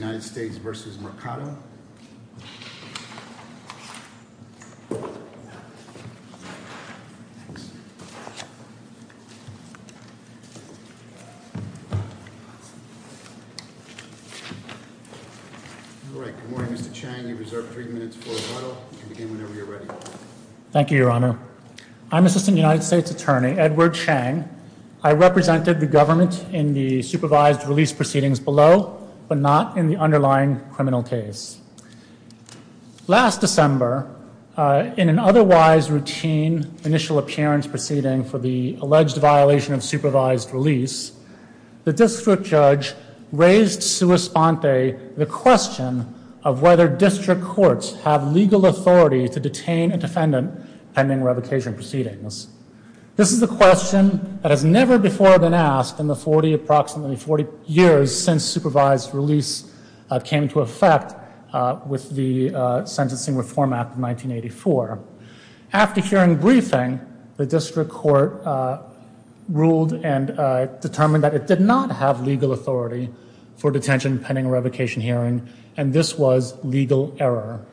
United States v. Mercado Thank you, Your Honor. I'm Assistant United States Attorney Edward Chang. I represented the government in the supervised release proceedings below, but not in the underlying criminal case. Last December, in an otherwise routine initial appearance proceeding for the alleged violation of supervised release, the district judge raised sua sponte the question of whether district courts have legal authority to detain a defendant pending revocation proceedings. This is a question that has never before been asked in the approximately 40 years since supervised release came into effect with the Sentencing Reform Act of 1984. After hearing briefing, the district court ruled and determined that it did not have legal authority for detention pending revocation hearing, and this was legal error.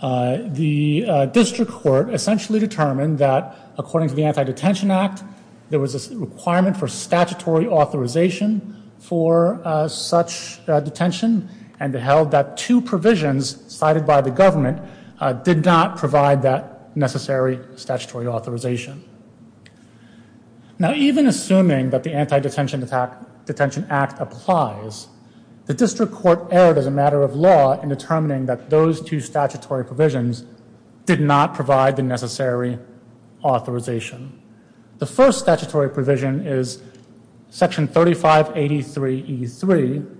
The district court essentially determined that, according to the Anti-Detention Act, there was a requirement for statutory authorization for such detention, and held that two provisions cited by the government did not provide that necessary statutory authorization. Now, even assuming that the Anti-Detention Act applies, the district court erred as a matter of law in determining that those two statutory provisions did not provide the necessary authorization. The first statutory provision is Section 3583E3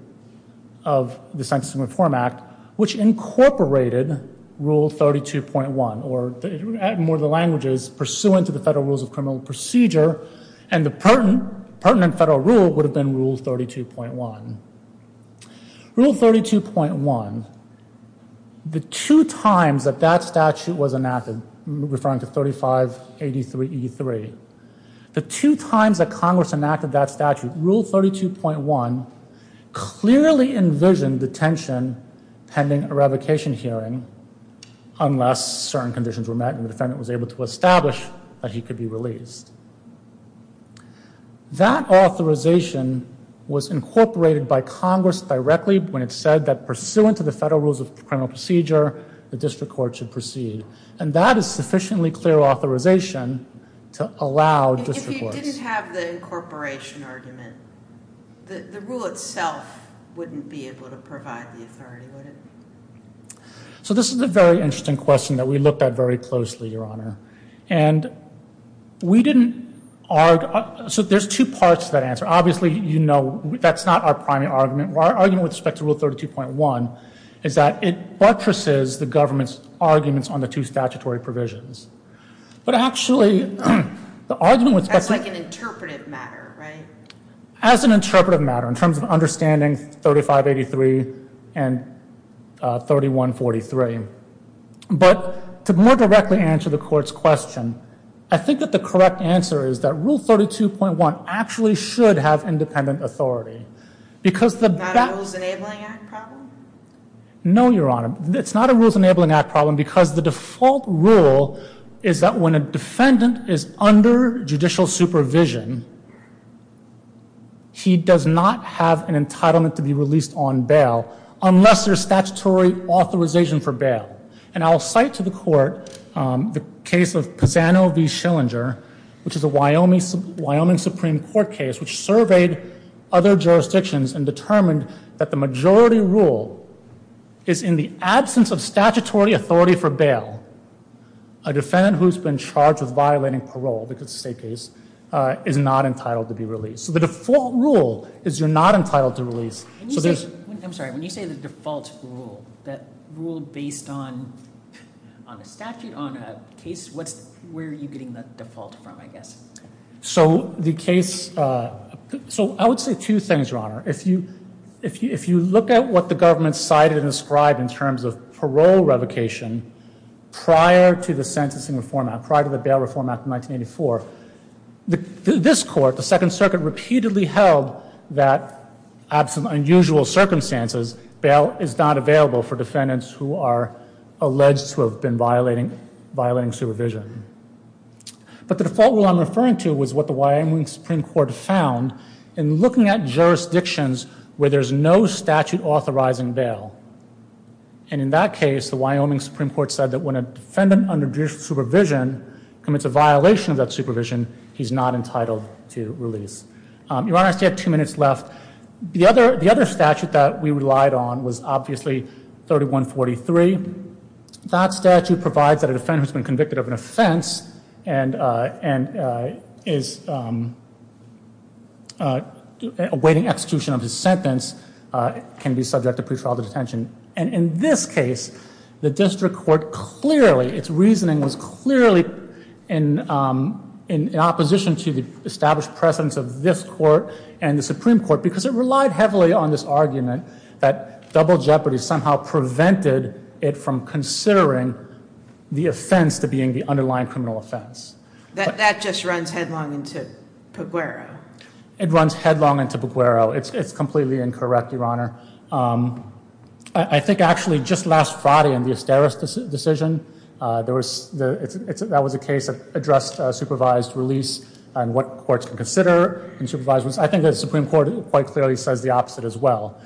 of the Sentencing Reform Act, which incorporated Rule 32.1, or in more of the languages, pursuant to the federal rules of criminal procedure, and the pertinent federal rule would have been Rule 32.1. Rule 32.1, the two times that statute was enacted, referring to 3583E3, the two times that Congress enacted that statute, Rule 32.1, clearly envisioned detention pending a revocation hearing, unless certain conditions were met and the defendant was able to establish that he could be released. That authorization was incorporated by Congress directly when it said that, pursuant to the federal rules of criminal procedure, the district court should proceed. And that is sufficiently clear authorization to allow district courts... If you didn't have the incorporation argument, the rule itself wouldn't be able to provide the authority, would it? So this is a very interesting question that we looked at very closely, Your Honor. And we didn't... So there's two parts to that answer. Obviously, you know, that's not our primary argument. Our argument with respect to Rule 32.1 is that it buttresses the government's arguments on the two statutory provisions. But actually, the argument with respect to... That's like an interpretive matter, right? As an interpretive matter, in terms of understanding 3583 and 3143. But to more directly answer the court's question, I think that the correct answer is that Rule 32.1 actually should have independent authority. Because the... Not a Rules Enabling Act problem? No, Your Honor. It's not a Rules Enabling Act problem because the default rule is that when a defendant is under judicial supervision, he does not have an entitlement to be released on bail unless there's statutory authorization for bail. And I'll cite to the court the case of Pisano v. Schillinger, which is a Wyoming Supreme Court case, which surveyed other jurisdictions and determined that the majority rule is in the absence of statutory authority for bail, a defendant who's been charged with violating parole because of state case is not entitled to be released. So the default rule is you're not entitled to release. I'm sorry. When you say the default rule, that rule based on a statute, on a case, what's where are you getting the default from, I guess? So the case... So I would say two things, Your Honor. If you look at what the government cited and described in terms of parole revocation prior to the sentencing reform act, prior to the Bail Reform Act of 1984, this court, the Second Circuit, repeatedly held that absent unusual circumstances, bail is not available for defendants who are alleged to have been violating supervision. But the default rule I'm referring to was what the Wyoming Supreme Court found in looking at jurisdictions where there's no statute authorizing bail. And in that case, the Wyoming Supreme Court said that when a defendant under judicial supervision commits a violation of that supervision, he's not entitled to release. Your Honor, I still have two minutes left. The other statute that we relied on was obviously 3143. That statute provides that a defendant who's been convicted of an offense and is awaiting execution of his sentence can be subject to pretrial detention. And in this case, the district court clearly, its reasoning was clearly in opposition to the established precedence of this court and the Supreme Court because it relied heavily on this argument that double jeopardy somehow prevented it from considering the offense to being the underlying criminal offense. That just runs headlong into Peguero. It runs headlong into Peguero. It's completely incorrect, Your Honor. I think actually just last Friday in the Esteros decision, that was a case that addressed supervised release and what courts can consider. I think the Supreme Court quite clearly says the opposite as well.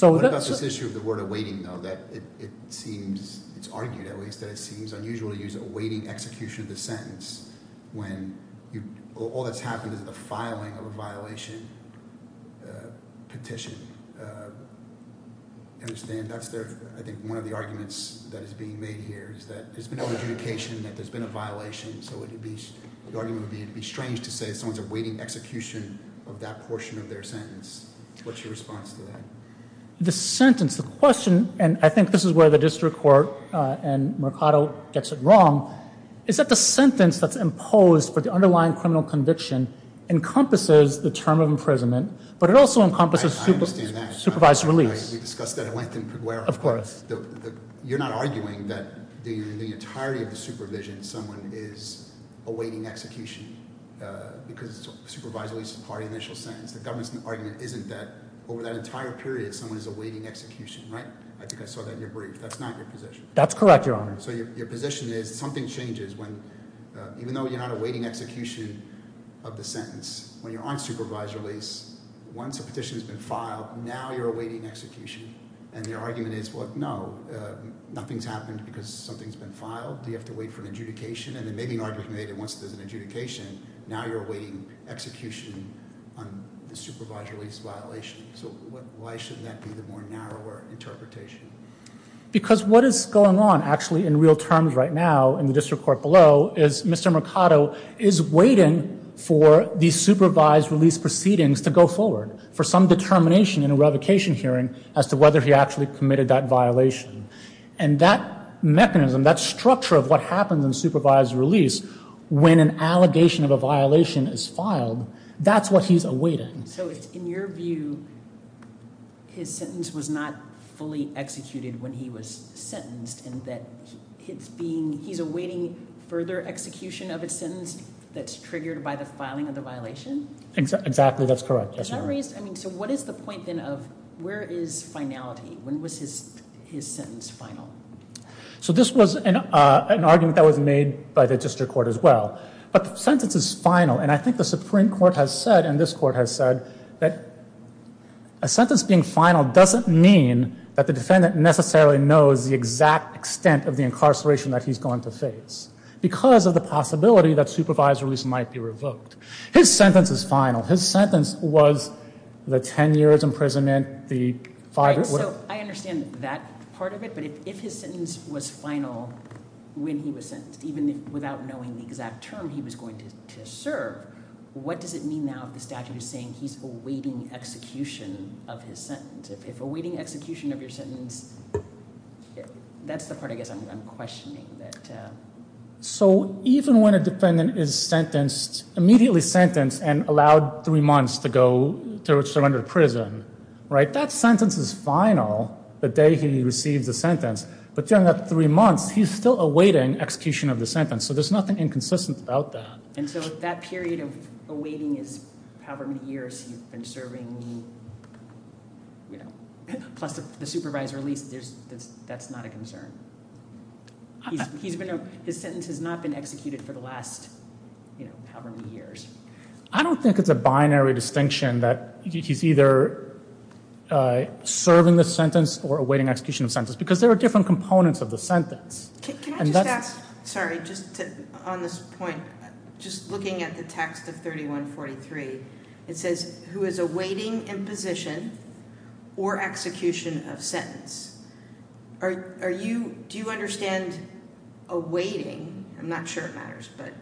What about this issue of the word awaiting, though? It's argued at least that it seems unusual to use awaiting execution of the sentence when all that's happened is the filing of a violation petition. I think one of the arguments that is being made here is that there's been no adjudication, that there's been a violation. The argument would be strange to say someone's awaiting execution of that portion of their sentence. What's your response to that? The sentence, the question, and I think this is where the district court and Mercado gets it wrong, is that the sentence that's imposed for the underlying criminal conviction encompasses the term of imprisonment, but it also encompasses supervised release. I understand that. We discussed that at length in Pueblo. You're not arguing that in the entirety of the supervision, someone is awaiting execution, because supervised release is part of the initial sentence. The government's argument isn't that over that entire period, someone is awaiting execution, right? I think I saw that in your brief. That's not your position. That's correct, Your Honor. So your position is something changes when, even though you're not awaiting execution of the sentence, when you're on supervised release, once a petition has been filed, now you're awaiting execution, and your argument is, well, no, nothing's happened because something's been filed. Do you have to wait for an adjudication? And it may be an argument that once there's an adjudication, now you're awaiting execution on the supervised release violation. So why should that be the more narrower interpretation? Because what is going on, actually, in real terms right now in the district court below, is Mr. Mercado is waiting for the supervised release proceedings to go forward, for some determination in a revocation hearing as to whether he actually committed that violation. And that mechanism, that structure of what happens in supervised release, when an allegation of a violation is filed, that's what he's awaiting. So in your view, his sentence was not fully executed when he was sentenced, and that it's being, he's awaiting further execution of his sentence that's triggered by the filing of the violation? Exactly, that's correct. So what is the point, then, of where is finality? When was his sentence final? So this was an argument that was made by the district court as well. But the sentence is final, and I think the Supreme Court has said, and this court has said, that a sentence being final doesn't mean that the defendant necessarily knows the exact extent of the incarceration that he's going to face because of the possibility that supervised release might be revoked. His sentence is final. His sentence was the 10 years imprisonment, the five- Right, so I understand that part of it, but if his sentence was final when he was sentenced, even without knowing the exact term he was going to serve, what does it mean now if the statute is saying he's awaiting execution of his sentence? If awaiting execution of your sentence, that's the part I guess I'm questioning. So even when a defendant is sentenced, immediately sentenced, and allowed three months to go to surrender to prison, that sentence is final the day he receives the sentence. But during that three months, he's still awaiting execution of the sentence. So there's nothing inconsistent about that. And so that period of awaiting is however many years he's been serving, plus the supervised release, that's not a concern. His sentence has not been executed for the last however many years. I don't think it's a binary distinction that he's either serving the sentence or awaiting execution of the sentence because there are different components of the sentence. Can I just ask, sorry, just on this point, just looking at the text of 3143, it says who is awaiting imposition or execution of sentence. Do you understand awaiting, I'm not sure it matters, but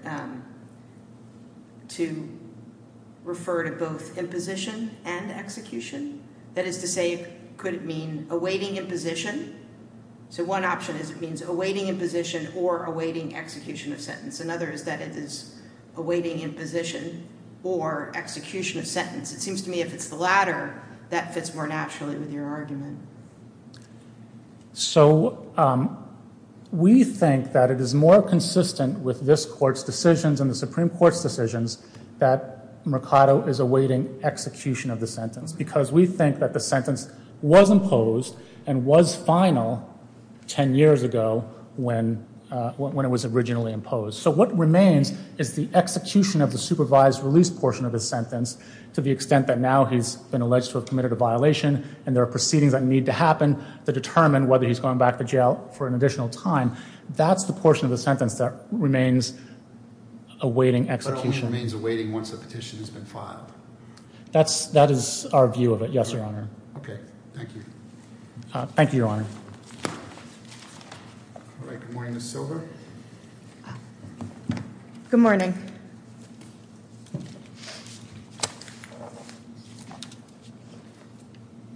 to refer to both imposition and execution? That is to say, could it mean awaiting imposition? So one option is it means awaiting imposition or awaiting execution of sentence. Another is that it is awaiting imposition or execution of sentence. It seems to me if it's the latter, that fits more naturally with your argument. So we think that it is more consistent with this court's decisions and the Supreme Court's decisions that Mercado is awaiting execution of the sentence because we think that the sentence was imposed and was final ten years ago when it was originally imposed. So what remains is the execution of the supervised release portion of the sentence to the extent that now he's been alleged to have committed a violation and there are proceedings that need to happen to determine whether he's going back to jail for an additional time. That's the portion of the sentence that remains awaiting execution. But it only remains awaiting once the petition has been filed. That is our view of it, yes, Your Honor. Okay, thank you. Thank you, Your Honor. All right, good morning, Ms. Silva. Good morning.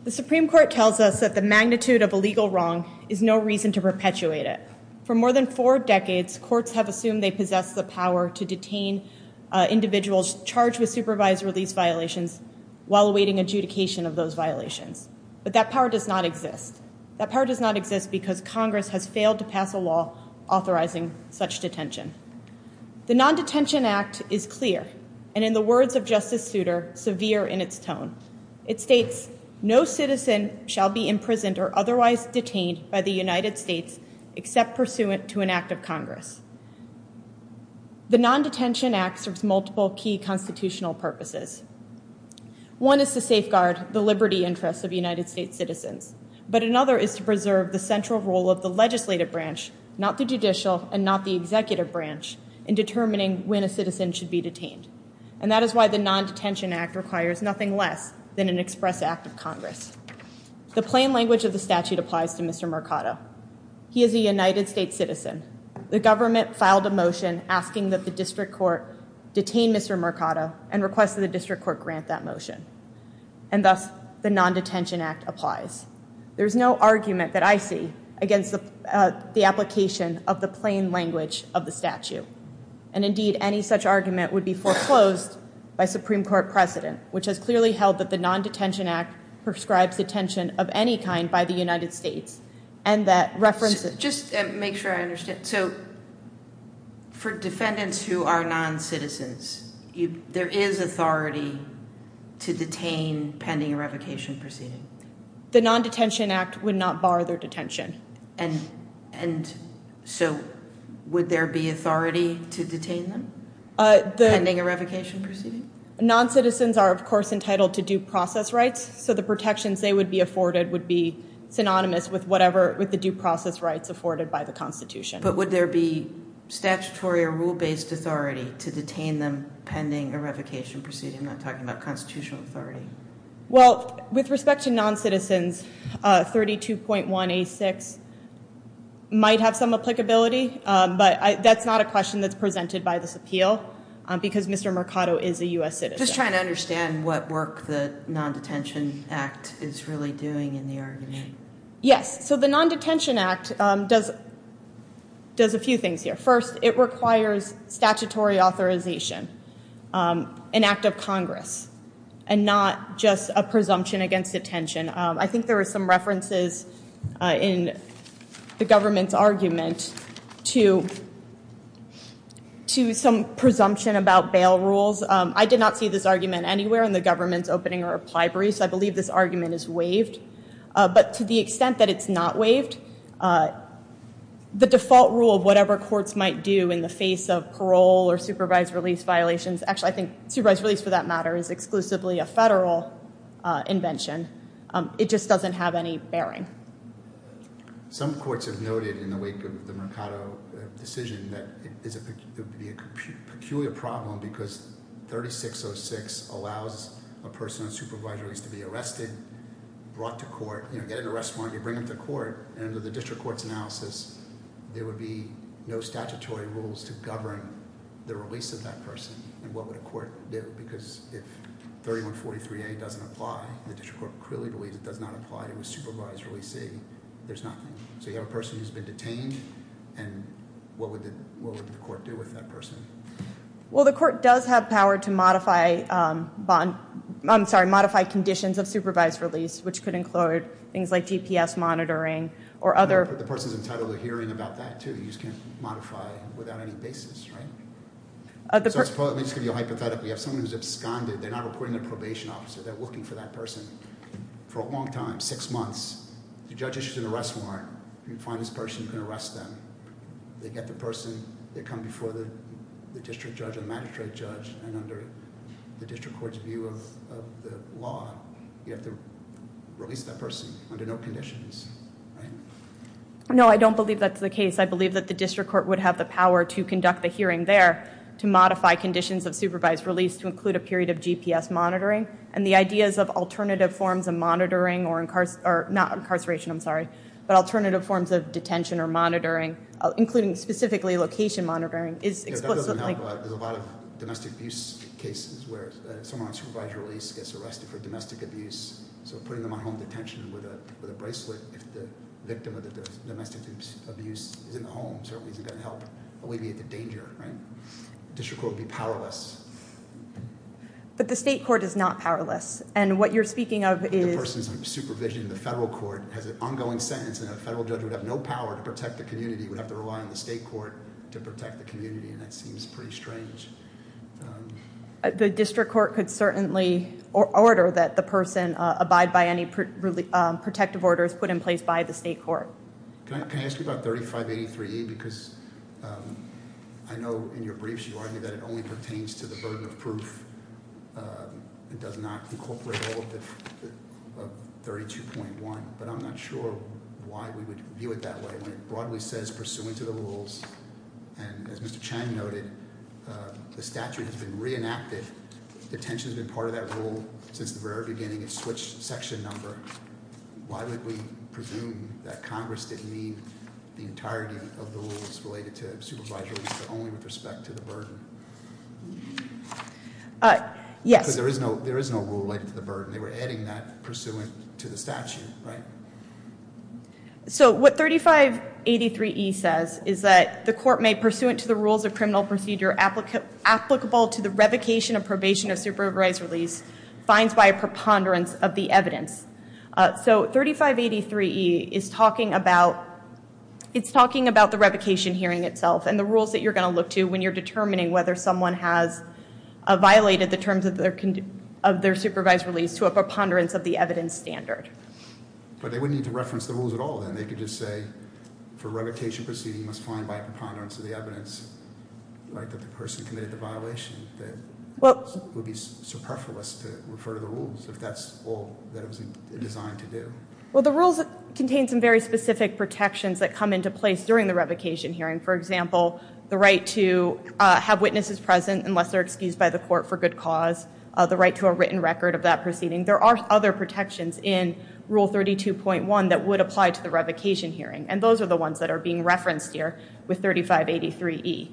The Supreme Court tells us that the magnitude of a legal wrong is no reason to perpetuate it. For more than four decades, courts have assumed they possess the power to detain individuals charged with supervised release violations while awaiting adjudication of those violations. But that power does not exist. That power does not exist because Congress has failed to pass a law authorizing such detention. The Non-Detention Act is clear, and in the words of Justice Souter, severe in its tone. It states, no citizen shall be imprisoned or otherwise detained by the United States except pursuant to an act of Congress. The Non-Detention Act serves multiple key constitutional purposes. One is to safeguard the liberty interests of United States citizens. But another is to preserve the central role of the legislative branch, not the judicial and not the executive branch, in determining when a citizen should be detained. And that is why the Non-Detention Act requires nothing less than an express act of The plain language of the statute applies to Mr. Mercado. He is a United States citizen. The government filed a motion asking that the district court detain Mr. Mercado and requested the district court grant that motion. And thus, the Non-Detention Act applies. There is no argument that I see against the application of the plain language of the statute. And indeed, any such argument would be foreclosed by Supreme Court precedent, which has clearly held that the Non-Detention Act prescribes detention of any kind by the United States. And that references... Just to make sure I understand. So, for defendants who are non-citizens, there is authority to detain pending a revocation proceeding? The Non-Detention Act would not bar their detention. And so, would there be authority to detain them pending a revocation proceeding? Non-citizens are, of course, entitled to due process rights. So, the protections they would be afforded would be synonymous with whatever... with the due process rights afforded by the Constitution. But would there be statutory or rule-based authority to detain them pending a revocation proceeding? I'm not talking about constitutional authority. Well, with respect to non-citizens, 32.1A6 might have some applicability. But that's not a question that's presented by this appeal because Mr. Mercado is a U.S. citizen. I'm just trying to understand what work the Non-Detention Act is really doing in the argument. Yes. So, the Non-Detention Act does a few things here. First, it requires statutory authorization, an act of Congress, and not just a presumption against detention. I think there are some references in the government's argument to some presumption about bail rules. I did not see this argument anywhere in the government's opening or applied briefs. I believe this argument is waived. But to the extent that it's not waived, the default rule of whatever courts might do in the face of parole or supervised release violations... Actually, I think supervised release, for that matter, is exclusively a federal invention. It just doesn't have any bearing. Some courts have noted, in the wake of the Mercado decision, that it would be a peculiar problem because 3606 allows a person on supervised release to be arrested, brought to court, you know, get an arrest warrant, you bring them to court, and under the district court's analysis, there would be no statutory rules to govern the release of that person. And what would a court do? Because if 3143A doesn't apply, the district court clearly believes it does not apply to a supervised release. There's nothing. So you have a person who's been detained, and what would the court do with that person? Well, the court does have power to modify conditions of supervised release, which could include things like GPS monitoring or other... But the person's entitled to hearing about that, too. You just can't modify without any basis, right? So let me just give you a hypothetical. You have someone who's absconded. They're not reporting their probation officer. They're looking for that person for a long time, six months. The judge issues an arrest warrant. You find this person, you can arrest them. They get the person, they come before the district judge or magistrate judge, and under the district court's view of the law, you have to release that person under no conditions, right? No, I don't believe that's the case. I believe that the district court would have the power to conduct the hearing there to modify conditions of supervised release to include a period of GPS monitoring, and the ideas of alternative forms of monitoring, or not incarceration, I'm sorry, but alternative forms of detention or monitoring, including specifically location monitoring. That doesn't help. There's a lot of domestic abuse cases where someone on supervised release gets arrested for domestic abuse, so putting them on home detention with a bracelet if the victim of the domestic abuse is in the home certainly isn't going to help alleviate the danger, right? District court would be powerless. But the state court is not powerless, and what you're speaking of is- The person's supervision in the federal court has an ongoing sentence, and a federal judge would have no power to protect the community. He would have to rely on the state court to protect the community, and that seems pretty strange. The district court could certainly order that the person abide by any protective orders put in place by the state court. Can I ask you about 3583E? Because I know in your briefs you argue that it only pertains to the burden of proof. It does not incorporate all of 32.1, but I'm not sure why we would view it that way when it broadly says pursuant to the rules, and as Mr. Chang noted, the statute has been reenacted. Detention has been part of that rule since the very beginning. It's switched section number. Why would we presume that Congress didn't need the entirety of the rules related to supervised release, but only with respect to the burden? Yes. Because there is no rule related to the burden. They were adding that pursuant to the statute, right? So what 3583E says is that the court may, pursuant to the rules of criminal procedure applicable to the revocation of probation of supervised release, fines by a preponderance of the evidence. So 3583E is talking about the revocation hearing itself and the rules that you're going to look to when you're determining whether someone has violated the terms of their supervised release to a preponderance of the evidence standard. But they wouldn't need to reference the rules at all then. They could just say, for revocation proceeding, you must fine by a preponderance of the evidence, like that the person committed the violation. That would be superfluous to refer to the rules if that's all that it was designed to do. Well, the rules contain some very specific protections that come into place during the revocation hearing. For example, the right to have witnesses present unless they're excused by the court for good cause, the right to a written record of that proceeding. There are other protections in Rule 32.1 that would apply to the revocation hearing, and those are the ones that are being referenced here with 3583E.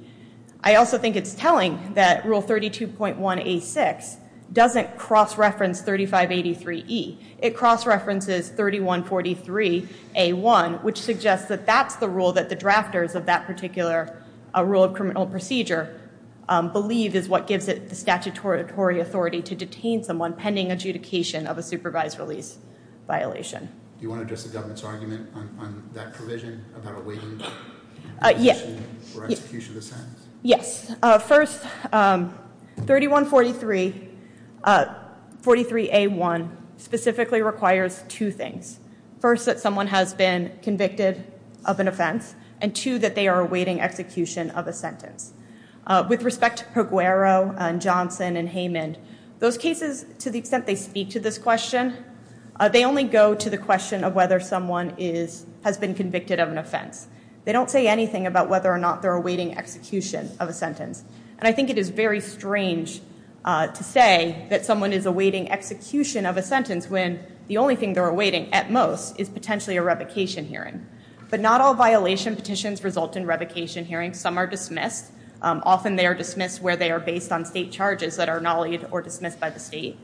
I also think it's telling that Rule 32.1A6 doesn't cross-reference 3583E. It cross-references 3143A1, which suggests that that's the rule that the drafters of that particular rule of criminal procedure believe is what gives it the statutory authority to detain someone pending adjudication of a supervised release violation. Do you want to address the government's argument on that provision about awaiting execution of the sentence? Yes. First, 3143A1 specifically requires two things. First, that someone has been convicted of an offense, and two, that they are awaiting execution of a sentence. With respect to Perguero and Johnson and Heyman, those cases, to the extent they speak to this question, they only go to the question of whether someone has been convicted of an offense. They don't say anything about whether or not they're awaiting execution of a sentence. And I think it is very strange to say that someone is awaiting execution of a sentence when the only thing they're awaiting, at most, is potentially a revocation hearing. But not all violation petitions result in revocation hearings. Some are dismissed. Often they are dismissed where they are based on state charges that are nollied or dismissed by the state.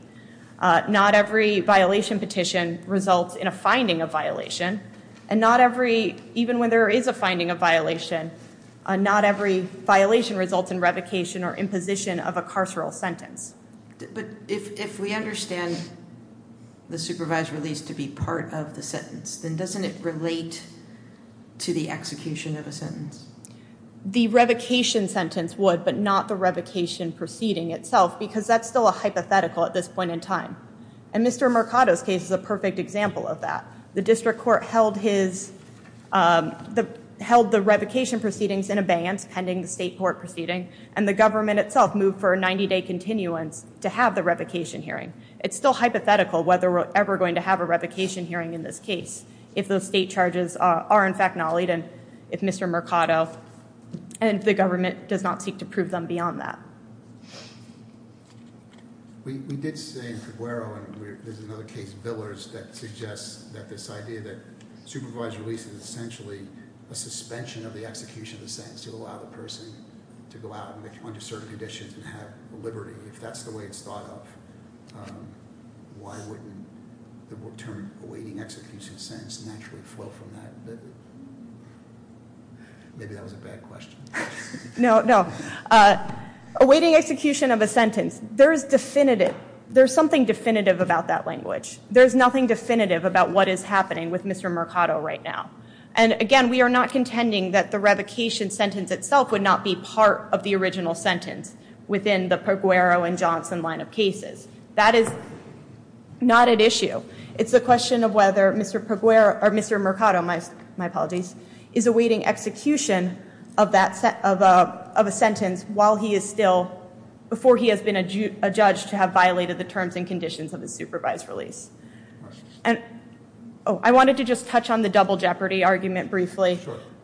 Not every violation petition results in a finding of violation. And not every, even when there is a finding of violation, not every violation results in revocation or imposition of a carceral sentence. But if we understand the supervised release to be part of the sentence, then doesn't it relate to the execution of a sentence? The revocation sentence would, but not the revocation proceeding itself, because that's still a hypothetical at this point in time. And Mr. Mercado's case is a perfect example of that. The district court held the revocation proceedings in abeyance, pending the state court proceeding, and the government itself moved for a 90-day continuance to have the revocation hearing. It's still hypothetical whether we're ever going to have a revocation hearing in this case if those state charges are in fact nollied and if Mr. Mercado and the government does not seek to prove them beyond that. We did say in Figueroa, and there's another case, Billers, that suggests that this idea that supervised release is essentially a suspension of the execution of the sentence to allow the person to go out under certain conditions and have liberty. If that's the way it's thought of, why wouldn't the term awaiting execution of sentence naturally flow from that? Maybe that was a bad question. No, no. Awaiting execution of a sentence. There's something definitive about that language. There's nothing definitive about what is happening with Mr. Mercado right now. And again, we are not contending that the revocation sentence itself would not be part of the original sentence within the Perguero and Johnson line of cases. That is not at issue. It's a question of whether Mr. Mercado is awaiting execution of a sentence while he is still, before he has been adjudged to have violated the terms and conditions of the supervised release. I wanted to just touch on the double jeopardy argument briefly.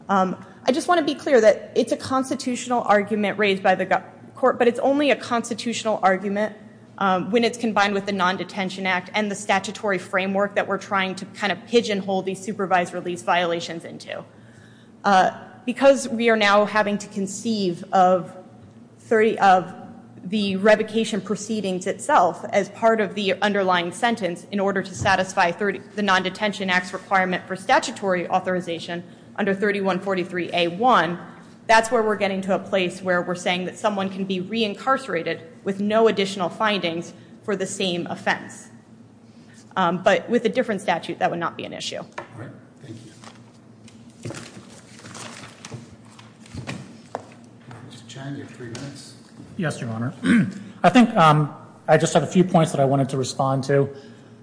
I just want to be clear that it's a constitutional argument raised by the court, but it's only a constitutional argument when it's combined with the Non-Detention Act and the statutory framework that we're trying to kind of pigeonhole these supervised release violations into. Because we are now having to conceive of the revocation proceedings itself as part of the underlying sentence in order to satisfy the Non-Detention Act's requirement for statutory authorization under 3143A1, that's where we're getting to a place where we're saying that someone can be reincarcerated with no additional findings for the same offense. But with a different statute, that would not be an issue. All right. Thank you. Mr. Chandy, you have three minutes. Yes, Your Honor. I think I just have a few points that I wanted to respond to.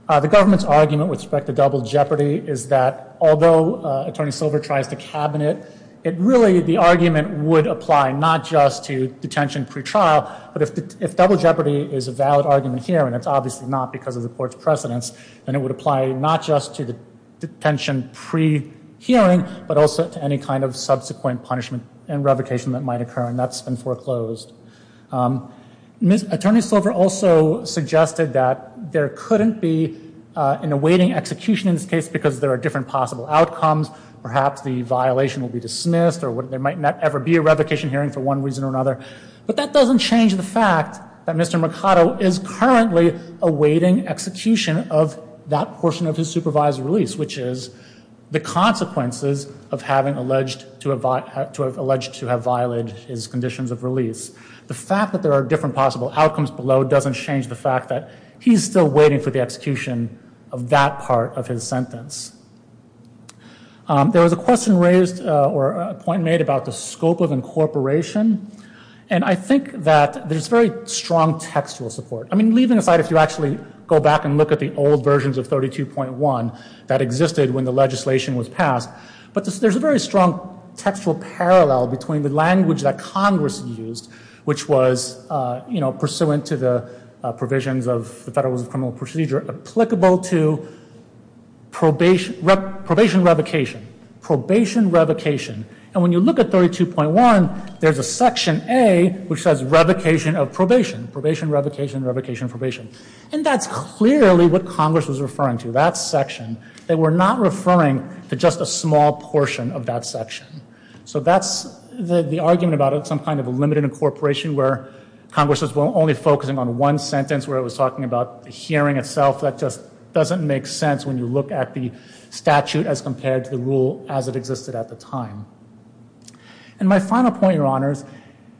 The government's argument with respect to double jeopardy is that although Attorney Silver tries to cabinet, it really, the argument would apply not just to detention pretrial, but if double jeopardy is a valid argument here, and it's obviously not because of the court's precedence, then it would apply not just to the detention prehearing, but also to any kind of subsequent punishment and revocation that might occur, and that's been foreclosed. Attorney Silver also suggested that there couldn't be an awaiting execution in this case because there are different possible outcomes, perhaps the violation will be dismissed or there might not ever be a revocation hearing for one reason or another. But that doesn't change the fact that Mr. Mercado is currently awaiting execution of that portion of his supervised release, which is the consequences of having alleged to have violated his conditions of release. The fact that there are different possible outcomes below doesn't change the fact that he's still waiting for the execution of that part of his sentence. There was a question raised or a point made about the scope of incorporation, and I think that there's very strong textual support. I mean, leaving aside if you actually go back and look at the old versions of 32.1 that existed when the legislation was passed, but there's a very strong textual parallel between the language that Congress used, which was, you know, pursuant to the provisions of the Federal Rules of Criminal Procedure, applicable to probation revocation, probation revocation. And when you look at 32.1, there's a section A which says revocation of probation, probation, revocation, revocation, probation. And that's clearly what Congress was referring to, that section. They were not referring to just a small portion of that section. So that's the argument about some kind of a limited incorporation where Congress was only focusing on one sentence, where it was talking about the hearing itself. That just doesn't make sense when you look at the statute as compared to the rule as it existed at the time. And my final point, Your Honors,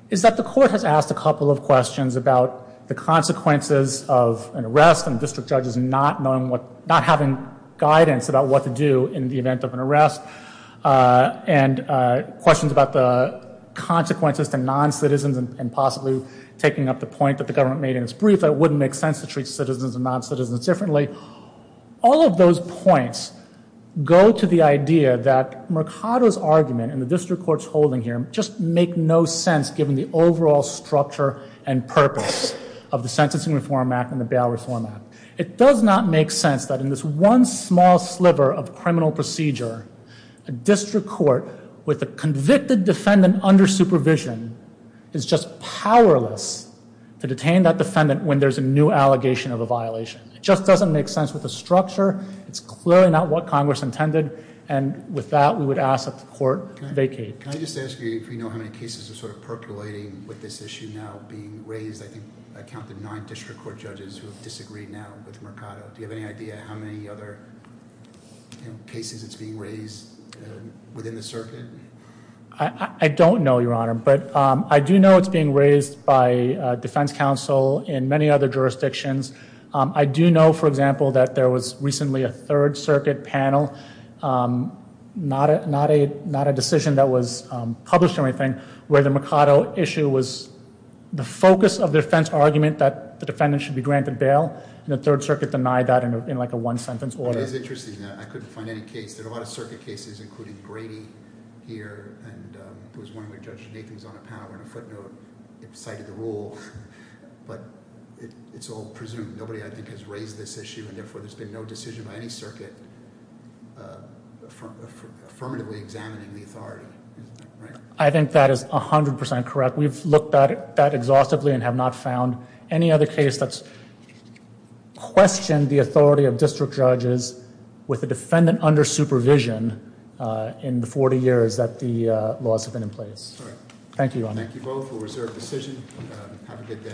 is that the Court has asked a couple of questions about the consequences of an arrest and district judges not having guidance about what to do in the event of an arrest. And questions about the consequences to non-citizens and possibly taking up the point that the government made in its brief that it wouldn't make sense to treat citizens and non-citizens differently. All of those points go to the idea that Mercado's argument and the district court's holding here just make no sense given the overall structure and purpose of the Sentencing Reform Act and the Bail Reform Act. It does not make sense that in this one small sliver of criminal procedure, a district court with a convicted defendant under supervision is just powerless to detain that defendant when there's a new allegation of a violation. It just doesn't make sense with the structure. It's clearly not what Congress intended. And with that, we would ask that the Court vacate. Can I just ask you if you know how many cases are sort of percolating with this issue now being raised? I think I counted nine district court judges who have disagreed now with Mercado. Do you have any idea how many other cases it's being raised within the circuit? I don't know, Your Honor. But I do know it's being raised by defense counsel in many other jurisdictions. I do know, for example, that there was recently a Third Circuit panel, not a decision that was published or anything, where the Mercado issue was the focus of the defense argument that the defendant should be granted bail, and the Third Circuit denied that in, like, a one-sentence order. It's interesting that I couldn't find any case. There are a lot of circuit cases, including Grady here, and it was one where Judge Nathan's on a power and a footnote cited the rule. But it's all presumed. Nobody, I think, has raised this issue, and therefore there's been no decision by any circuit affirmatively examining the authority. I think that is 100% correct. We've looked at it that exhaustively and have not found any other case that's questioned the authority of district judges with a defendant under supervision in the 40 years that the laws have been in place. Thank you, Your Honor. Thank you both for a reserved decision. Have a good day.